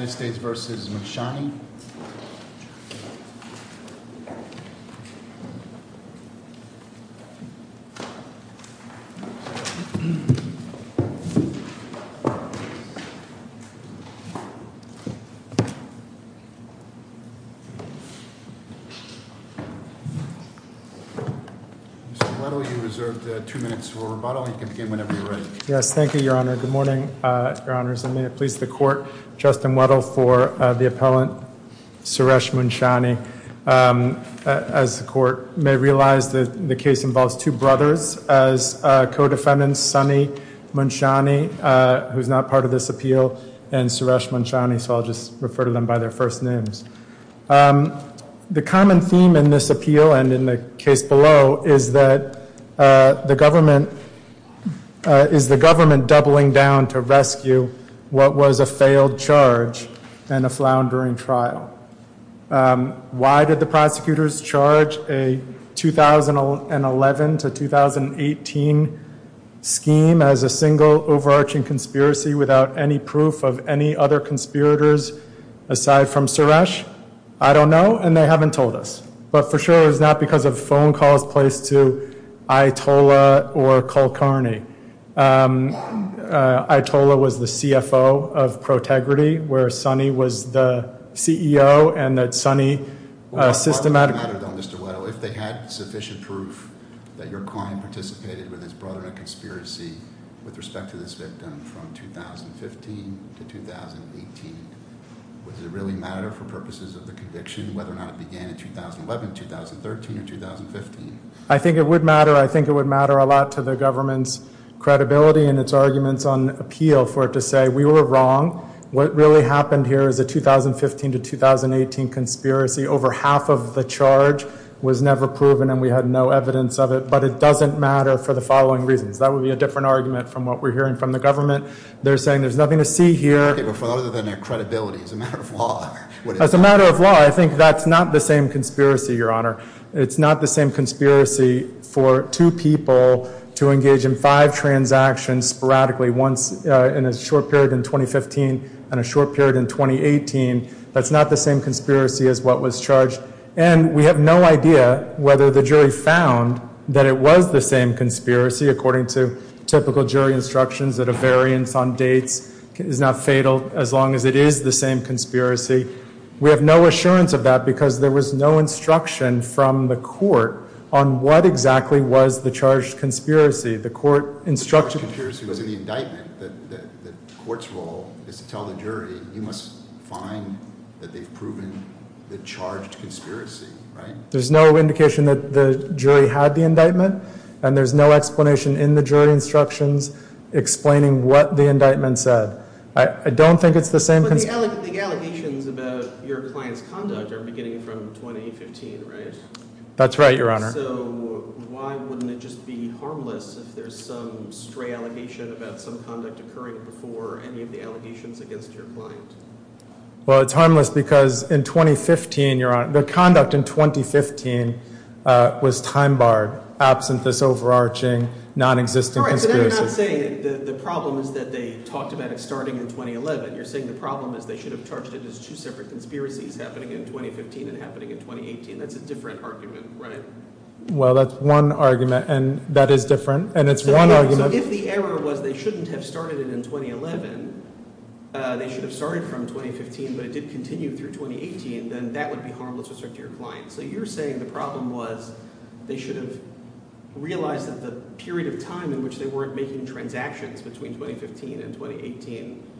Mr. Weddle, you are reserved two minutes for rebuttal. You can begin whenever you are ready. Yes, thank you, Your Honor. Good morning, Your Honors, and may it please the court, Justin Weddle for the appellant Suresh Munshani. As the court may realize that the case involves two brothers as co-defendants, Sonny Munshani, who's not part of this appeal, and Suresh Munshani, so I'll just refer to them by their first names. The common theme in this appeal and in the case below is that the government is doubling down to rescue what was a failed charge and a floundering trial. Why did the prosecutors charge a 2011 to 2018 scheme as a single overarching conspiracy without any proof of any other conspirators aside from Suresh? I don't know, and they haven't told us, but for sure it's not because of phone calls placed to Itola or Kulkarni. Itola was the CFO of Protegrity, where Sonny was the CEO, and that Sonny systematically- Does it really matter for purposes of the conviction whether or not it began in 2011, 2013, or 2015? I think it would matter. I think it would matter a lot to the government's credibility and its arguments on appeal for it to say we were wrong. What really happened here is a 2015 to 2018 conspiracy. Over half of the charge was never proven, and we had no evidence of it, but it doesn't matter for the following reasons. That would be a different argument from what we're hearing from the government. They're saying there's nothing to see here. Other than their credibility. As a matter of law, what is it? As a matter of law, I think that's not the same conspiracy, Your Honor. It's not the same conspiracy for two people to engage in five transactions sporadically in a short period in 2015 and a short period in 2018. That's not the same conspiracy as what was charged, and we have no idea whether the jury found that it was the same conspiracy, according to typical jury instructions that a variance on dates is not fatal as long as it is the same conspiracy. We have no assurance of that because there was no instruction from the court on what exactly was the charged conspiracy. The court instructed— The charged conspiracy was in the indictment. The court's role is to tell the jury, you must find that they've proven the charged conspiracy, right? There's no indication that the jury had the indictment, and there's no explanation in the jury instructions explaining what the indictment said. I don't think it's the same— But the allegations about your client's conduct are beginning from 2015, right? That's right, Your Honor. So why wouldn't it just be harmless if there's some stray allegation about some conduct occurring before any of the allegations against your client? Well, it's harmless because in 2015, Your Honor, the conduct in 2015 was time-barred, absent this overarching, non-existent conspiracy. All right, so then you're not saying the problem is that they talked about it starting in 2011. You're saying the problem is they should have charged it as two separate conspiracies happening in 2015 and happening in 2018. That's a different argument, right? Well, that's one argument, and that is different, and it's one argument— So if the error was they shouldn't have started it in 2011, they should have started from 2015, but it did continue through 2018, then that would be harmless to your client. So you're saying the problem was they should have realized that the period of time in which they weren't making transactions between 2015 and 2018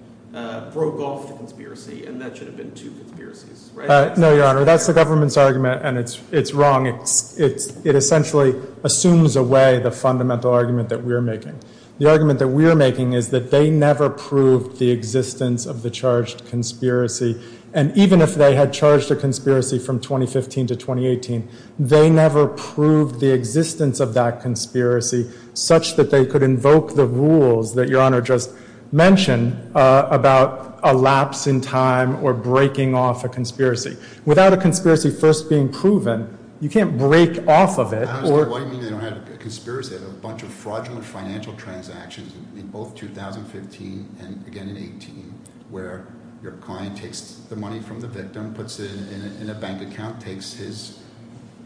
broke off the conspiracy, and that should have been two conspiracies, right? No, Your Honor. That's the government's argument, and it's wrong. It essentially assumes away the fundamental argument that we're making. The argument that we're making is that they never proved the existence of the charged conspiracy, and even if they had charged a conspiracy from 2015 to 2018, they never proved the existence of that conspiracy such that they could invoke the rules that Your Honor just mentioned about a lapse in time or breaking off a conspiracy. Without a conspiracy first being proven, you can't break off of it or— What do you mean they don't have a conspiracy? They have a bunch of fraudulent financial transactions in both 2015 and again in 2018 where your client takes the money from the victim, puts it in a bank account, takes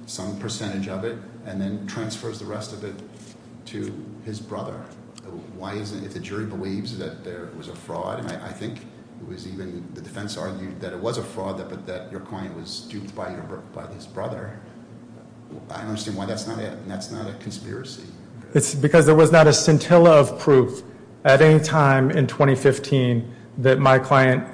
some percentage of it, and then transfers the rest of it to his brother. Why isn't—if the jury believes that there was a fraud, and I think it was even—the defense argued that it was a fraud but that your client was duped by his brother, I don't understand why that's not a conspiracy. It's because there was not a scintilla of proof at any time in 2015 that my client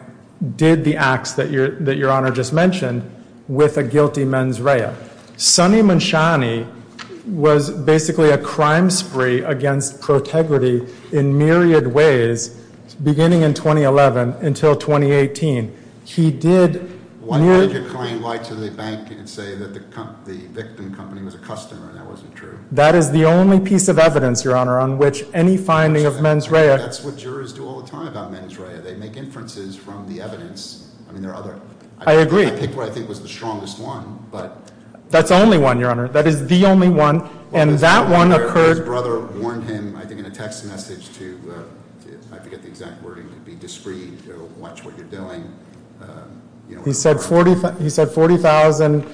did the acts that Your Honor just mentioned with a guilty mens rea. Sonny Manchani was basically a crime spree against protegrity in myriad ways beginning in 2011 until 2018. He did— Why did your client lie to the bank and say that the victim company was a customer and that wasn't true? That is the only piece of evidence, Your Honor, on which any finding of mens rea— That's what jurors do all the time about mens rea. They make inferences from the evidence. I mean, there are other— I agree. I picked what I think was the strongest one, but— That's the only one, Your Honor. That is the only one, and that one occurred— His brother warned him, I think, in a text message to—I forget the exact wording—to be discreet, to watch what you're doing. He said $40,000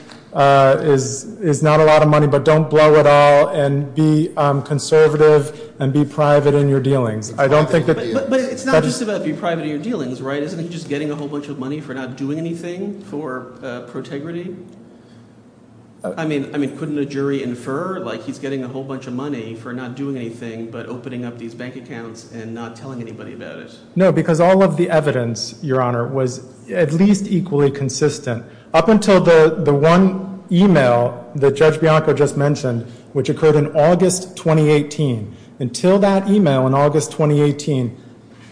is not a lot of money, but don't blow it all, and be conservative, and be private in your dealings. But it's not just about be private in your dealings, right? Isn't he just getting a whole bunch of money for not doing anything for protegrity? I mean, couldn't a jury infer, like, he's getting a whole bunch of money for not doing anything but opening up these bank accounts and not telling anybody about it? No, because all of the evidence, Your Honor, was at least equally consistent up until the one email that Judge Bianco just mentioned, which occurred in August 2018. Until that email in August 2018,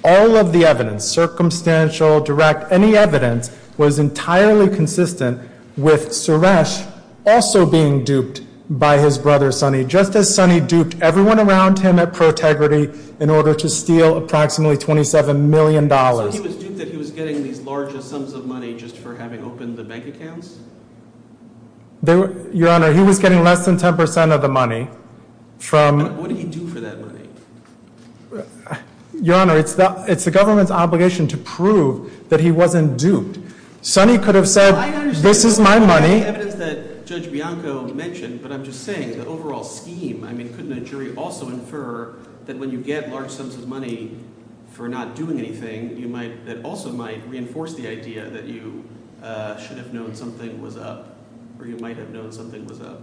all of the evidence—circumstantial, direct, any evidence—was entirely consistent with Suresh also being duped by his brother, Sonny, just as Sonny duped everyone around him at Protegrity in order to steal approximately $27 million. So he was duped that he was getting these larger sums of money just for having opened the bank accounts? Your Honor, he was getting less than 10 percent of the money from— What did he do for that money? Your Honor, it's the government's obligation to prove that he wasn't duped. Sonny could have said, this is my money. Well, I understand the evidence that Judge Bianco mentioned, but I'm just saying the overall scheme, I mean, couldn't a jury also infer that when you get large sums of money for not doing anything, that also might reinforce the idea that you should have known something was up or you might have known something was up?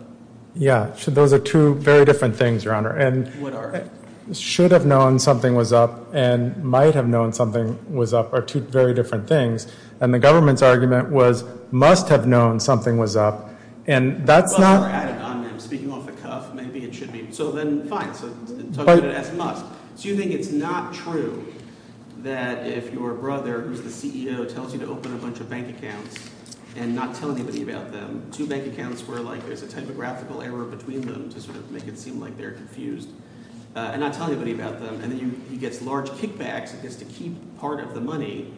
Yeah. So those are two very different things, Your Honor. What are? Should have known something was up and might have known something was up are two very different things. And the government's argument was must have known something was up, and that's not— Well, you were added on them. Speaking off the cuff, maybe it should be—so then fine. So talk about it as must. So you think it's not true that if your brother, who's the CEO, tells you to open a bunch of bank accounts and not tell anybody about them, two bank accounts where, like, there's a typographical error between them to sort of make it seem like they're confused, and not tell anybody about them, and then he gets large kickbacks and gets to keep part of the money,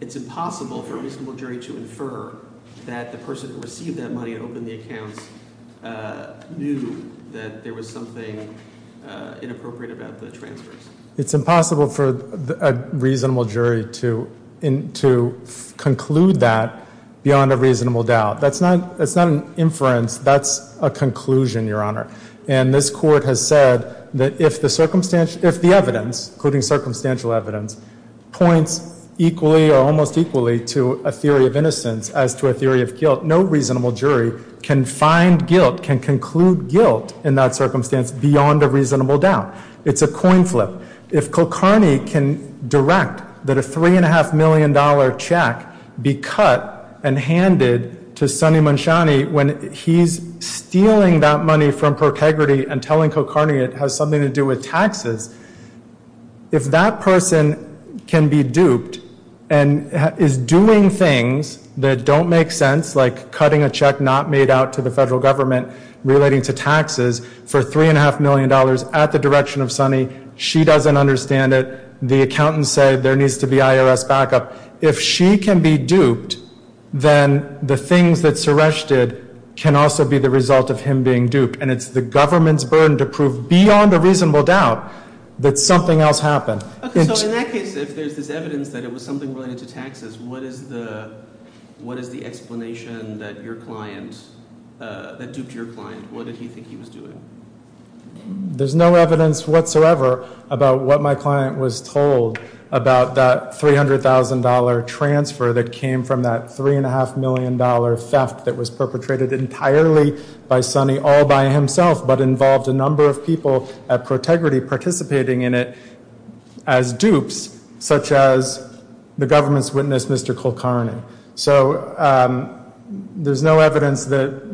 it's impossible for a reasonable jury to infer that the person who received that money and opened the accounts knew that there was something inappropriate about the transfers. It's impossible for a reasonable jury to conclude that beyond a reasonable doubt. That's not an inference. That's a conclusion, Your Honor. And this Court has said that if the evidence, including circumstantial evidence, points equally or almost equally to a theory of innocence as to a theory of guilt, no reasonable jury can find guilt, can conclude guilt in that circumstance beyond a reasonable doubt. It's a coin flip. If Kulkarni can direct that a $3.5 million check be cut and handed to Sonny Munshani when he's stealing that money from ProTegrity and telling Kulkarni it has something to do with taxes, if that person can be duped and is doing things that don't make sense, like cutting a check not made out to the federal government relating to taxes for $3.5 million at the direction of Sonny, she doesn't understand it, the accountant said there needs to be IRS backup, if she can be duped, then the things that Suresh did can also be the result of him being duped. And it's the government's burden to prove beyond a reasonable doubt that something else happened. So in that case, if there's this evidence that it was something related to taxes, what is the explanation that your client, that duped your client, what did he think he was doing? There's no evidence whatsoever about what my client was told about that $300,000 transfer that came from that $3.5 million theft that was perpetrated entirely by Sonny all by himself but involved a number of people at Protegrity participating in it as dupes, such as the government's witness, Mr. Kulkarni. So there's no evidence about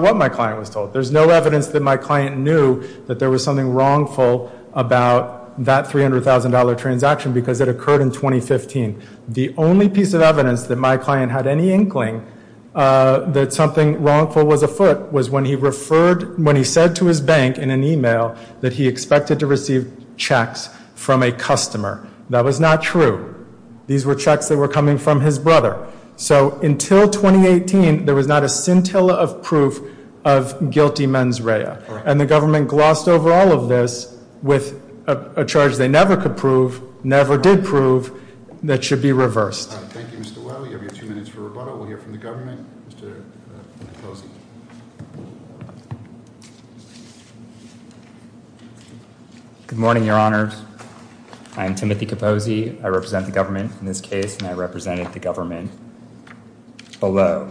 what my client was told. There's no evidence that my client knew that there was something wrongful about that $300,000 transaction because it occurred in 2015. The only piece of evidence that my client had any inkling that something wrongful was afoot was when he said to his bank in an e-mail that he expected to receive checks from a customer. That was not true. These were checks that were coming from his brother. So until 2018, there was not a scintilla of proof of guilty mens rea. And the government glossed over all of this with a charge they never could prove, never did prove, that should be reversed. Thank you, Mr. Well. You have your two minutes for rebuttal. We'll hear from the government, Mr. Capozzi. Good morning, Your Honors. I'm Timothy Capozzi. I represent the government in this case, and I represented the government below.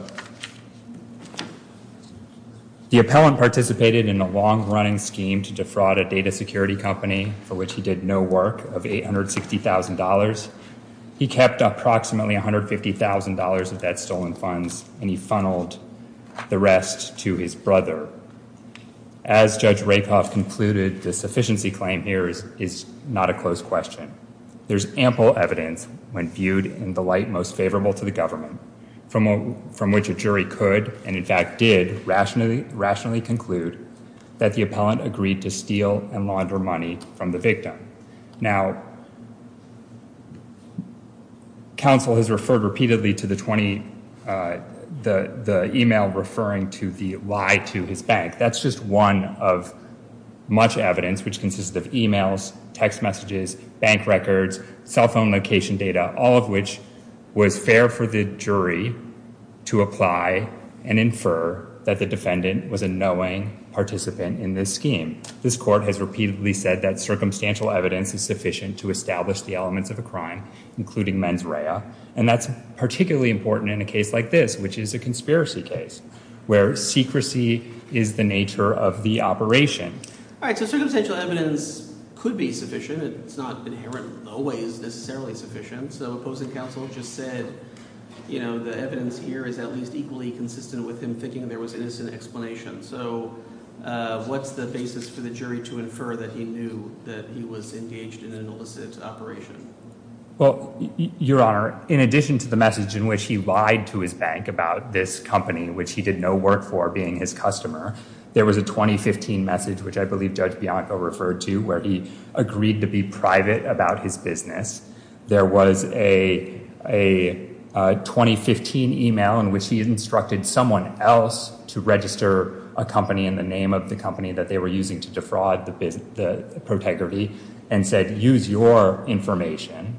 The appellant participated in a long-running scheme to defraud a data security company for which he did no work of $860,000. He kept approximately $150,000 of that stolen funds, and he funneled the rest to his brother. As Judge Rakoff concluded, the sufficiency claim here is not a close question. There's ample evidence, when viewed in the light most favorable to the government, from which a jury could, and in fact did, rationally conclude that the appellant agreed to steal and launder money from the victim. Now, counsel has referred repeatedly to the email referring to the lie to his bank. That's just one of much evidence, which consists of emails, text messages, bank records, cell phone location data, all of which was fair for the jury to apply and infer that the defendant was a knowing participant in this scheme. This court has repeatedly said that circumstantial evidence is sufficient to establish the elements of a crime, including mens rea, and that's particularly important in a case like this, which is a conspiracy case, where secrecy is the nature of the operation. All right, so circumstantial evidence could be sufficient. It's not inherently always necessarily sufficient. So opposing counsel just said the evidence here is at least equally consistent with him thinking there was innocent explanation. So what's the basis for the jury to infer that he knew that he was engaged in an illicit operation? Well, Your Honor, in addition to the message in which he lied to his bank about this company, which he did no work for, being his customer, there was a 2015 message, which I believe Judge Bianco referred to, where he agreed to be private about his business. There was a 2015 e-mail in which he instructed someone else to register a company in the name of the company that they were using to defraud the protégé and said, use your information.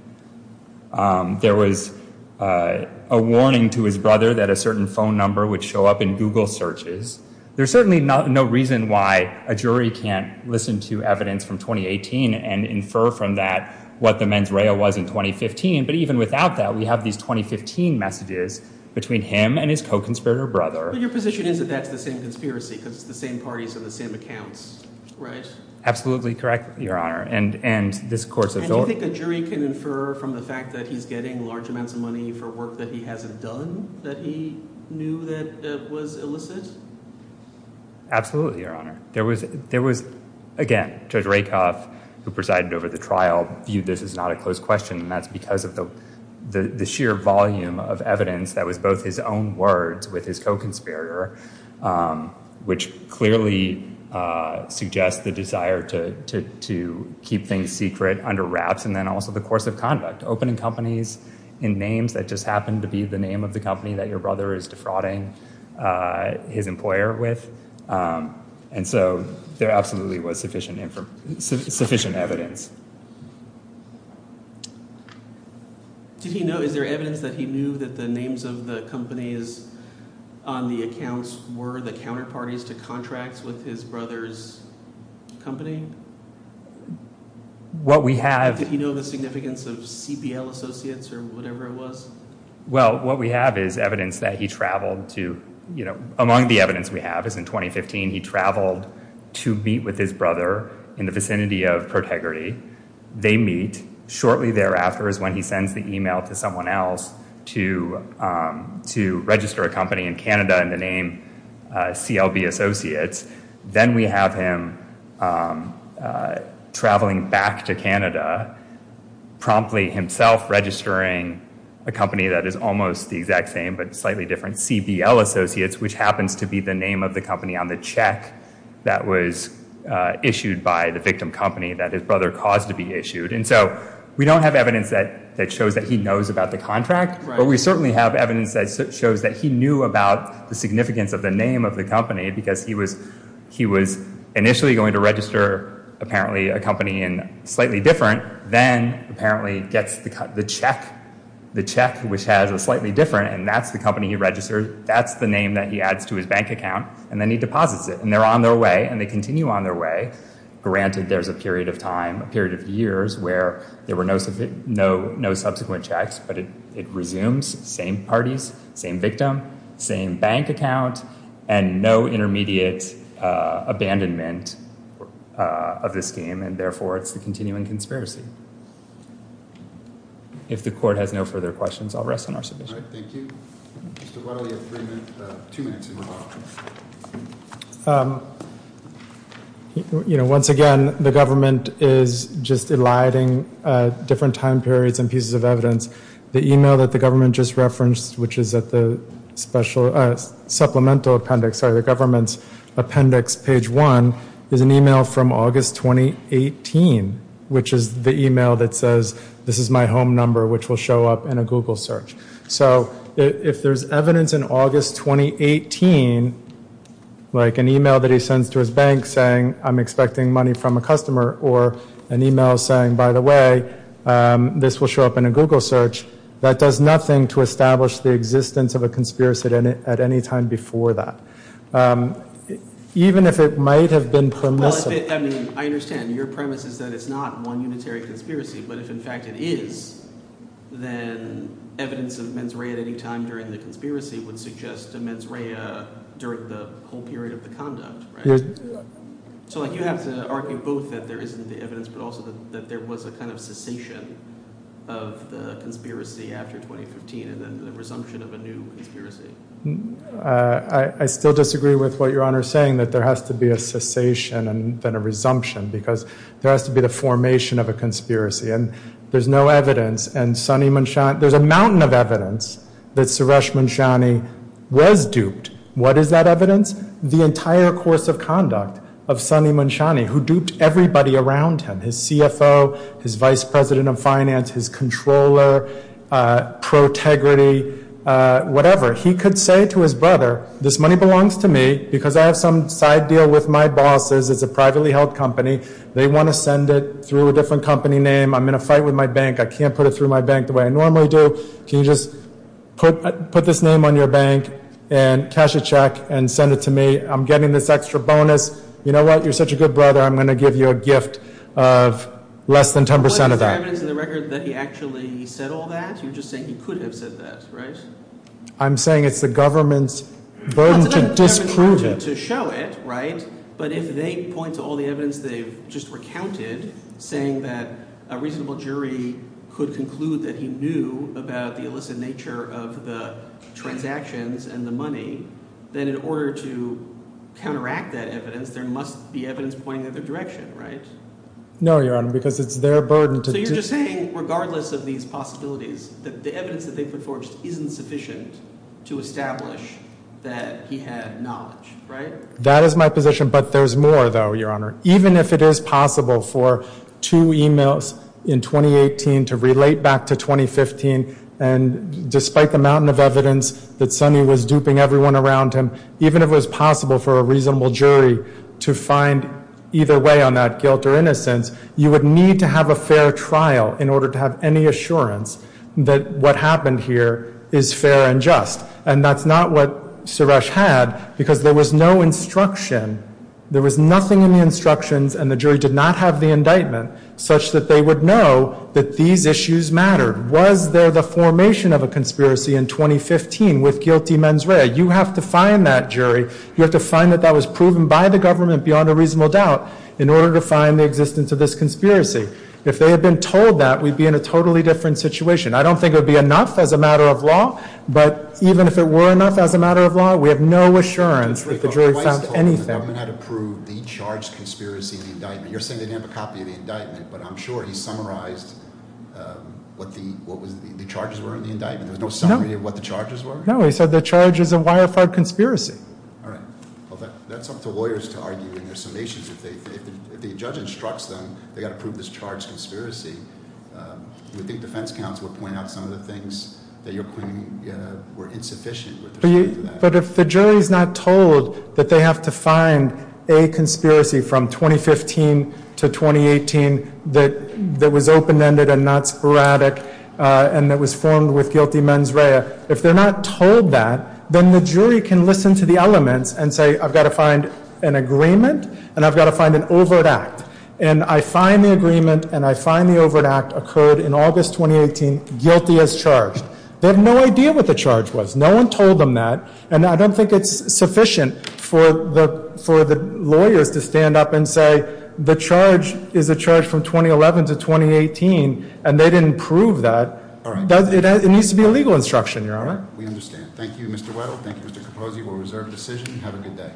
There was a warning to his brother that a certain phone number would show up in Google searches. There's certainly no reason why a jury can't listen to evidence from 2018 and infer from that what the mens rea was in 2015. But even without that, we have these 2015 messages between him and his co-conspirator brother. But your position is that that's the same conspiracy because it's the same parties and the same accounts, right? Absolutely correct, Your Honor. And you think a jury can infer from the fact that he's getting large amounts of money for work that he hasn't done that he knew that was illicit? Absolutely, Your Honor. Again, Judge Rakoff, who presided over the trial, viewed this as not a closed question, and that's because of the sheer volume of evidence that was both his own words with his co-conspirator, which clearly suggests the desire to keep things secret under wraps, and then also the course of conduct, opening companies in names that just happen to be the name of the company that your brother is defrauding his employer with. And so there absolutely was sufficient evidence. Is there evidence that he knew that the names of the companies on the accounts were the counterparties to contracts with his brother's company? Did he know the significance of CPL Associates or whatever it was? Well, what we have is evidence that he traveled to, you know, among the evidence we have is in 2015, he traveled to meet with his brother in the vicinity of ProTegrity. They meet. Shortly thereafter is when he sends the email to someone else to register a company in Canada in the name CLB Associates. Then we have him traveling back to Canada promptly himself registering a company that is almost the exact same but slightly different, CBL Associates, which happens to be the name of the company on the check that was issued by the victim company that his brother caused to be issued. And so we don't have evidence that shows that he knows about the contract, but we certainly have evidence that shows that he knew about the significance of the name of the company because he was initially going to register apparently a company in slightly different, then apparently gets the check, the check which has a slightly different, and that's the company he registered, that's the name that he adds to his bank account, and then he deposits it, and they're on their way, and they continue on their way. Granted, there's a period of time, a period of years, where there were no subsequent checks, but it resumes, same parties, same victim, same bank account, and no intermediate abandonment of this scheme, and therefore it's the continuing conspiracy. If the court has no further questions, I'll rest on our submission. All right, thank you. Why don't we have three minutes, two minutes in the box. You know, once again, the government is just eliding different time periods and pieces of evidence. The e-mail that the government just referenced, which is at the supplemental appendix, sorry, the government's appendix, page one, is an e-mail from August 2018, which is the e-mail that says, this is my home number, which will show up in a Google search. So if there's evidence in August 2018, like an e-mail that he sends to his bank saying, I'm expecting money from a customer, or an e-mail saying, by the way, this will show up in a Google search, that does nothing to establish the existence of a conspiracy at any time before that, even if it might have been permissive. Well, I mean, I understand. Your premise is that it's not one unitary conspiracy. But if, in fact, it is, then evidence of mens rea at any time during the conspiracy would suggest a mens rea during the whole period of the conduct, right? So like you have to argue both that there isn't the evidence, but also that there was a kind of cessation of the conspiracy after 2015, and then the resumption of a new conspiracy. I still disagree with what Your Honor is saying, that there has to be a cessation and then a resumption, because there has to be the formation of a conspiracy. And there's no evidence, and Sunny Munshani, there's a mountain of evidence that Suresh Munshani was duped. What is that evidence? The entire course of conduct of Sunny Munshani, who duped everybody around him, his CFO, his vice president of finance, his controller, pro-tegrity, whatever. He could say to his brother, this money belongs to me because I have some side deal with my bosses. It's a privately held company. They want to send it through a different company name. I'm in a fight with my bank. I can't put it through my bank the way I normally do. Can you just put this name on your bank and cash a check and send it to me? I'm getting this extra bonus. You know what? You're such a good brother. I'm going to give you a gift of less than 10 percent of that. What is the evidence in the record that he actually said all that? You're just saying he could have said that, right? I'm saying it's the government's burden to disprove it. It's not the government's burden to show it, right? But if they point to all the evidence they've just recounted, saying that a reasonable jury could conclude that he knew about the illicit nature of the transactions and the money, then in order to counteract that evidence, there must be evidence pointing the other direction, right? No, Your Honor, because it's their burden to— So you're just saying, regardless of these possibilities, that the evidence that they've put forth isn't sufficient to establish that he had knowledge, right? That is my position, but there's more, though, Your Honor. Even if it is possible for two emails in 2018 to relate back to 2015, and despite the mountain of evidence that Sonny was duping everyone around him, even if it was possible for a reasonable jury to find either way on that guilt or innocence, you would need to have a fair trial in order to have any assurance that what happened here is fair and just. And that's not what Suresh had, because there was no instruction. There was nothing in the instructions, and the jury did not have the indictment, such that they would know that these issues mattered. Was there the formation of a conspiracy in 2015 with guilty mens rea? You have to find that jury. You have to find that that was proven by the government beyond a reasonable doubt in order to find the existence of this conspiracy. If they had been told that, we'd be in a totally different situation. I don't think it would be enough as a matter of law, but even if it were enough as a matter of law, we have no assurance that the jury found anything. But the government had approved the charged conspiracy in the indictment. You're saying they didn't have a copy of the indictment, but I'm sure he summarized what the charges were in the indictment. There was no summary of what the charges were? No, he said the charge is a wire-fired conspiracy. All right. That's up to lawyers to argue in their summations. If the judge instructs them they've got to prove this charged conspiracy, you would think defense counsel would point out some of the things that you're claiming were insufficient. But if the jury's not told that they have to find a conspiracy from 2015 to 2018 that was open-ended and not sporadic and that was formed with guilty mens rea, if they're not told that, then the jury can listen to the elements and say, I've got to find an agreement and I've got to find an overt act. And I find the agreement and I find the overt act occurred in August 2018, guilty as charged. They have no idea what the charge was. No one told them that. And I don't think it's sufficient for the lawyers to stand up and say the charge is a charge from 2011 to 2018 and they didn't prove that. It needs to be a legal instruction, Your Honor. We understand. Thank you, Mr. Weddle. Thank you, Mr. Capozzi. We'll reserve decision. Have a good day.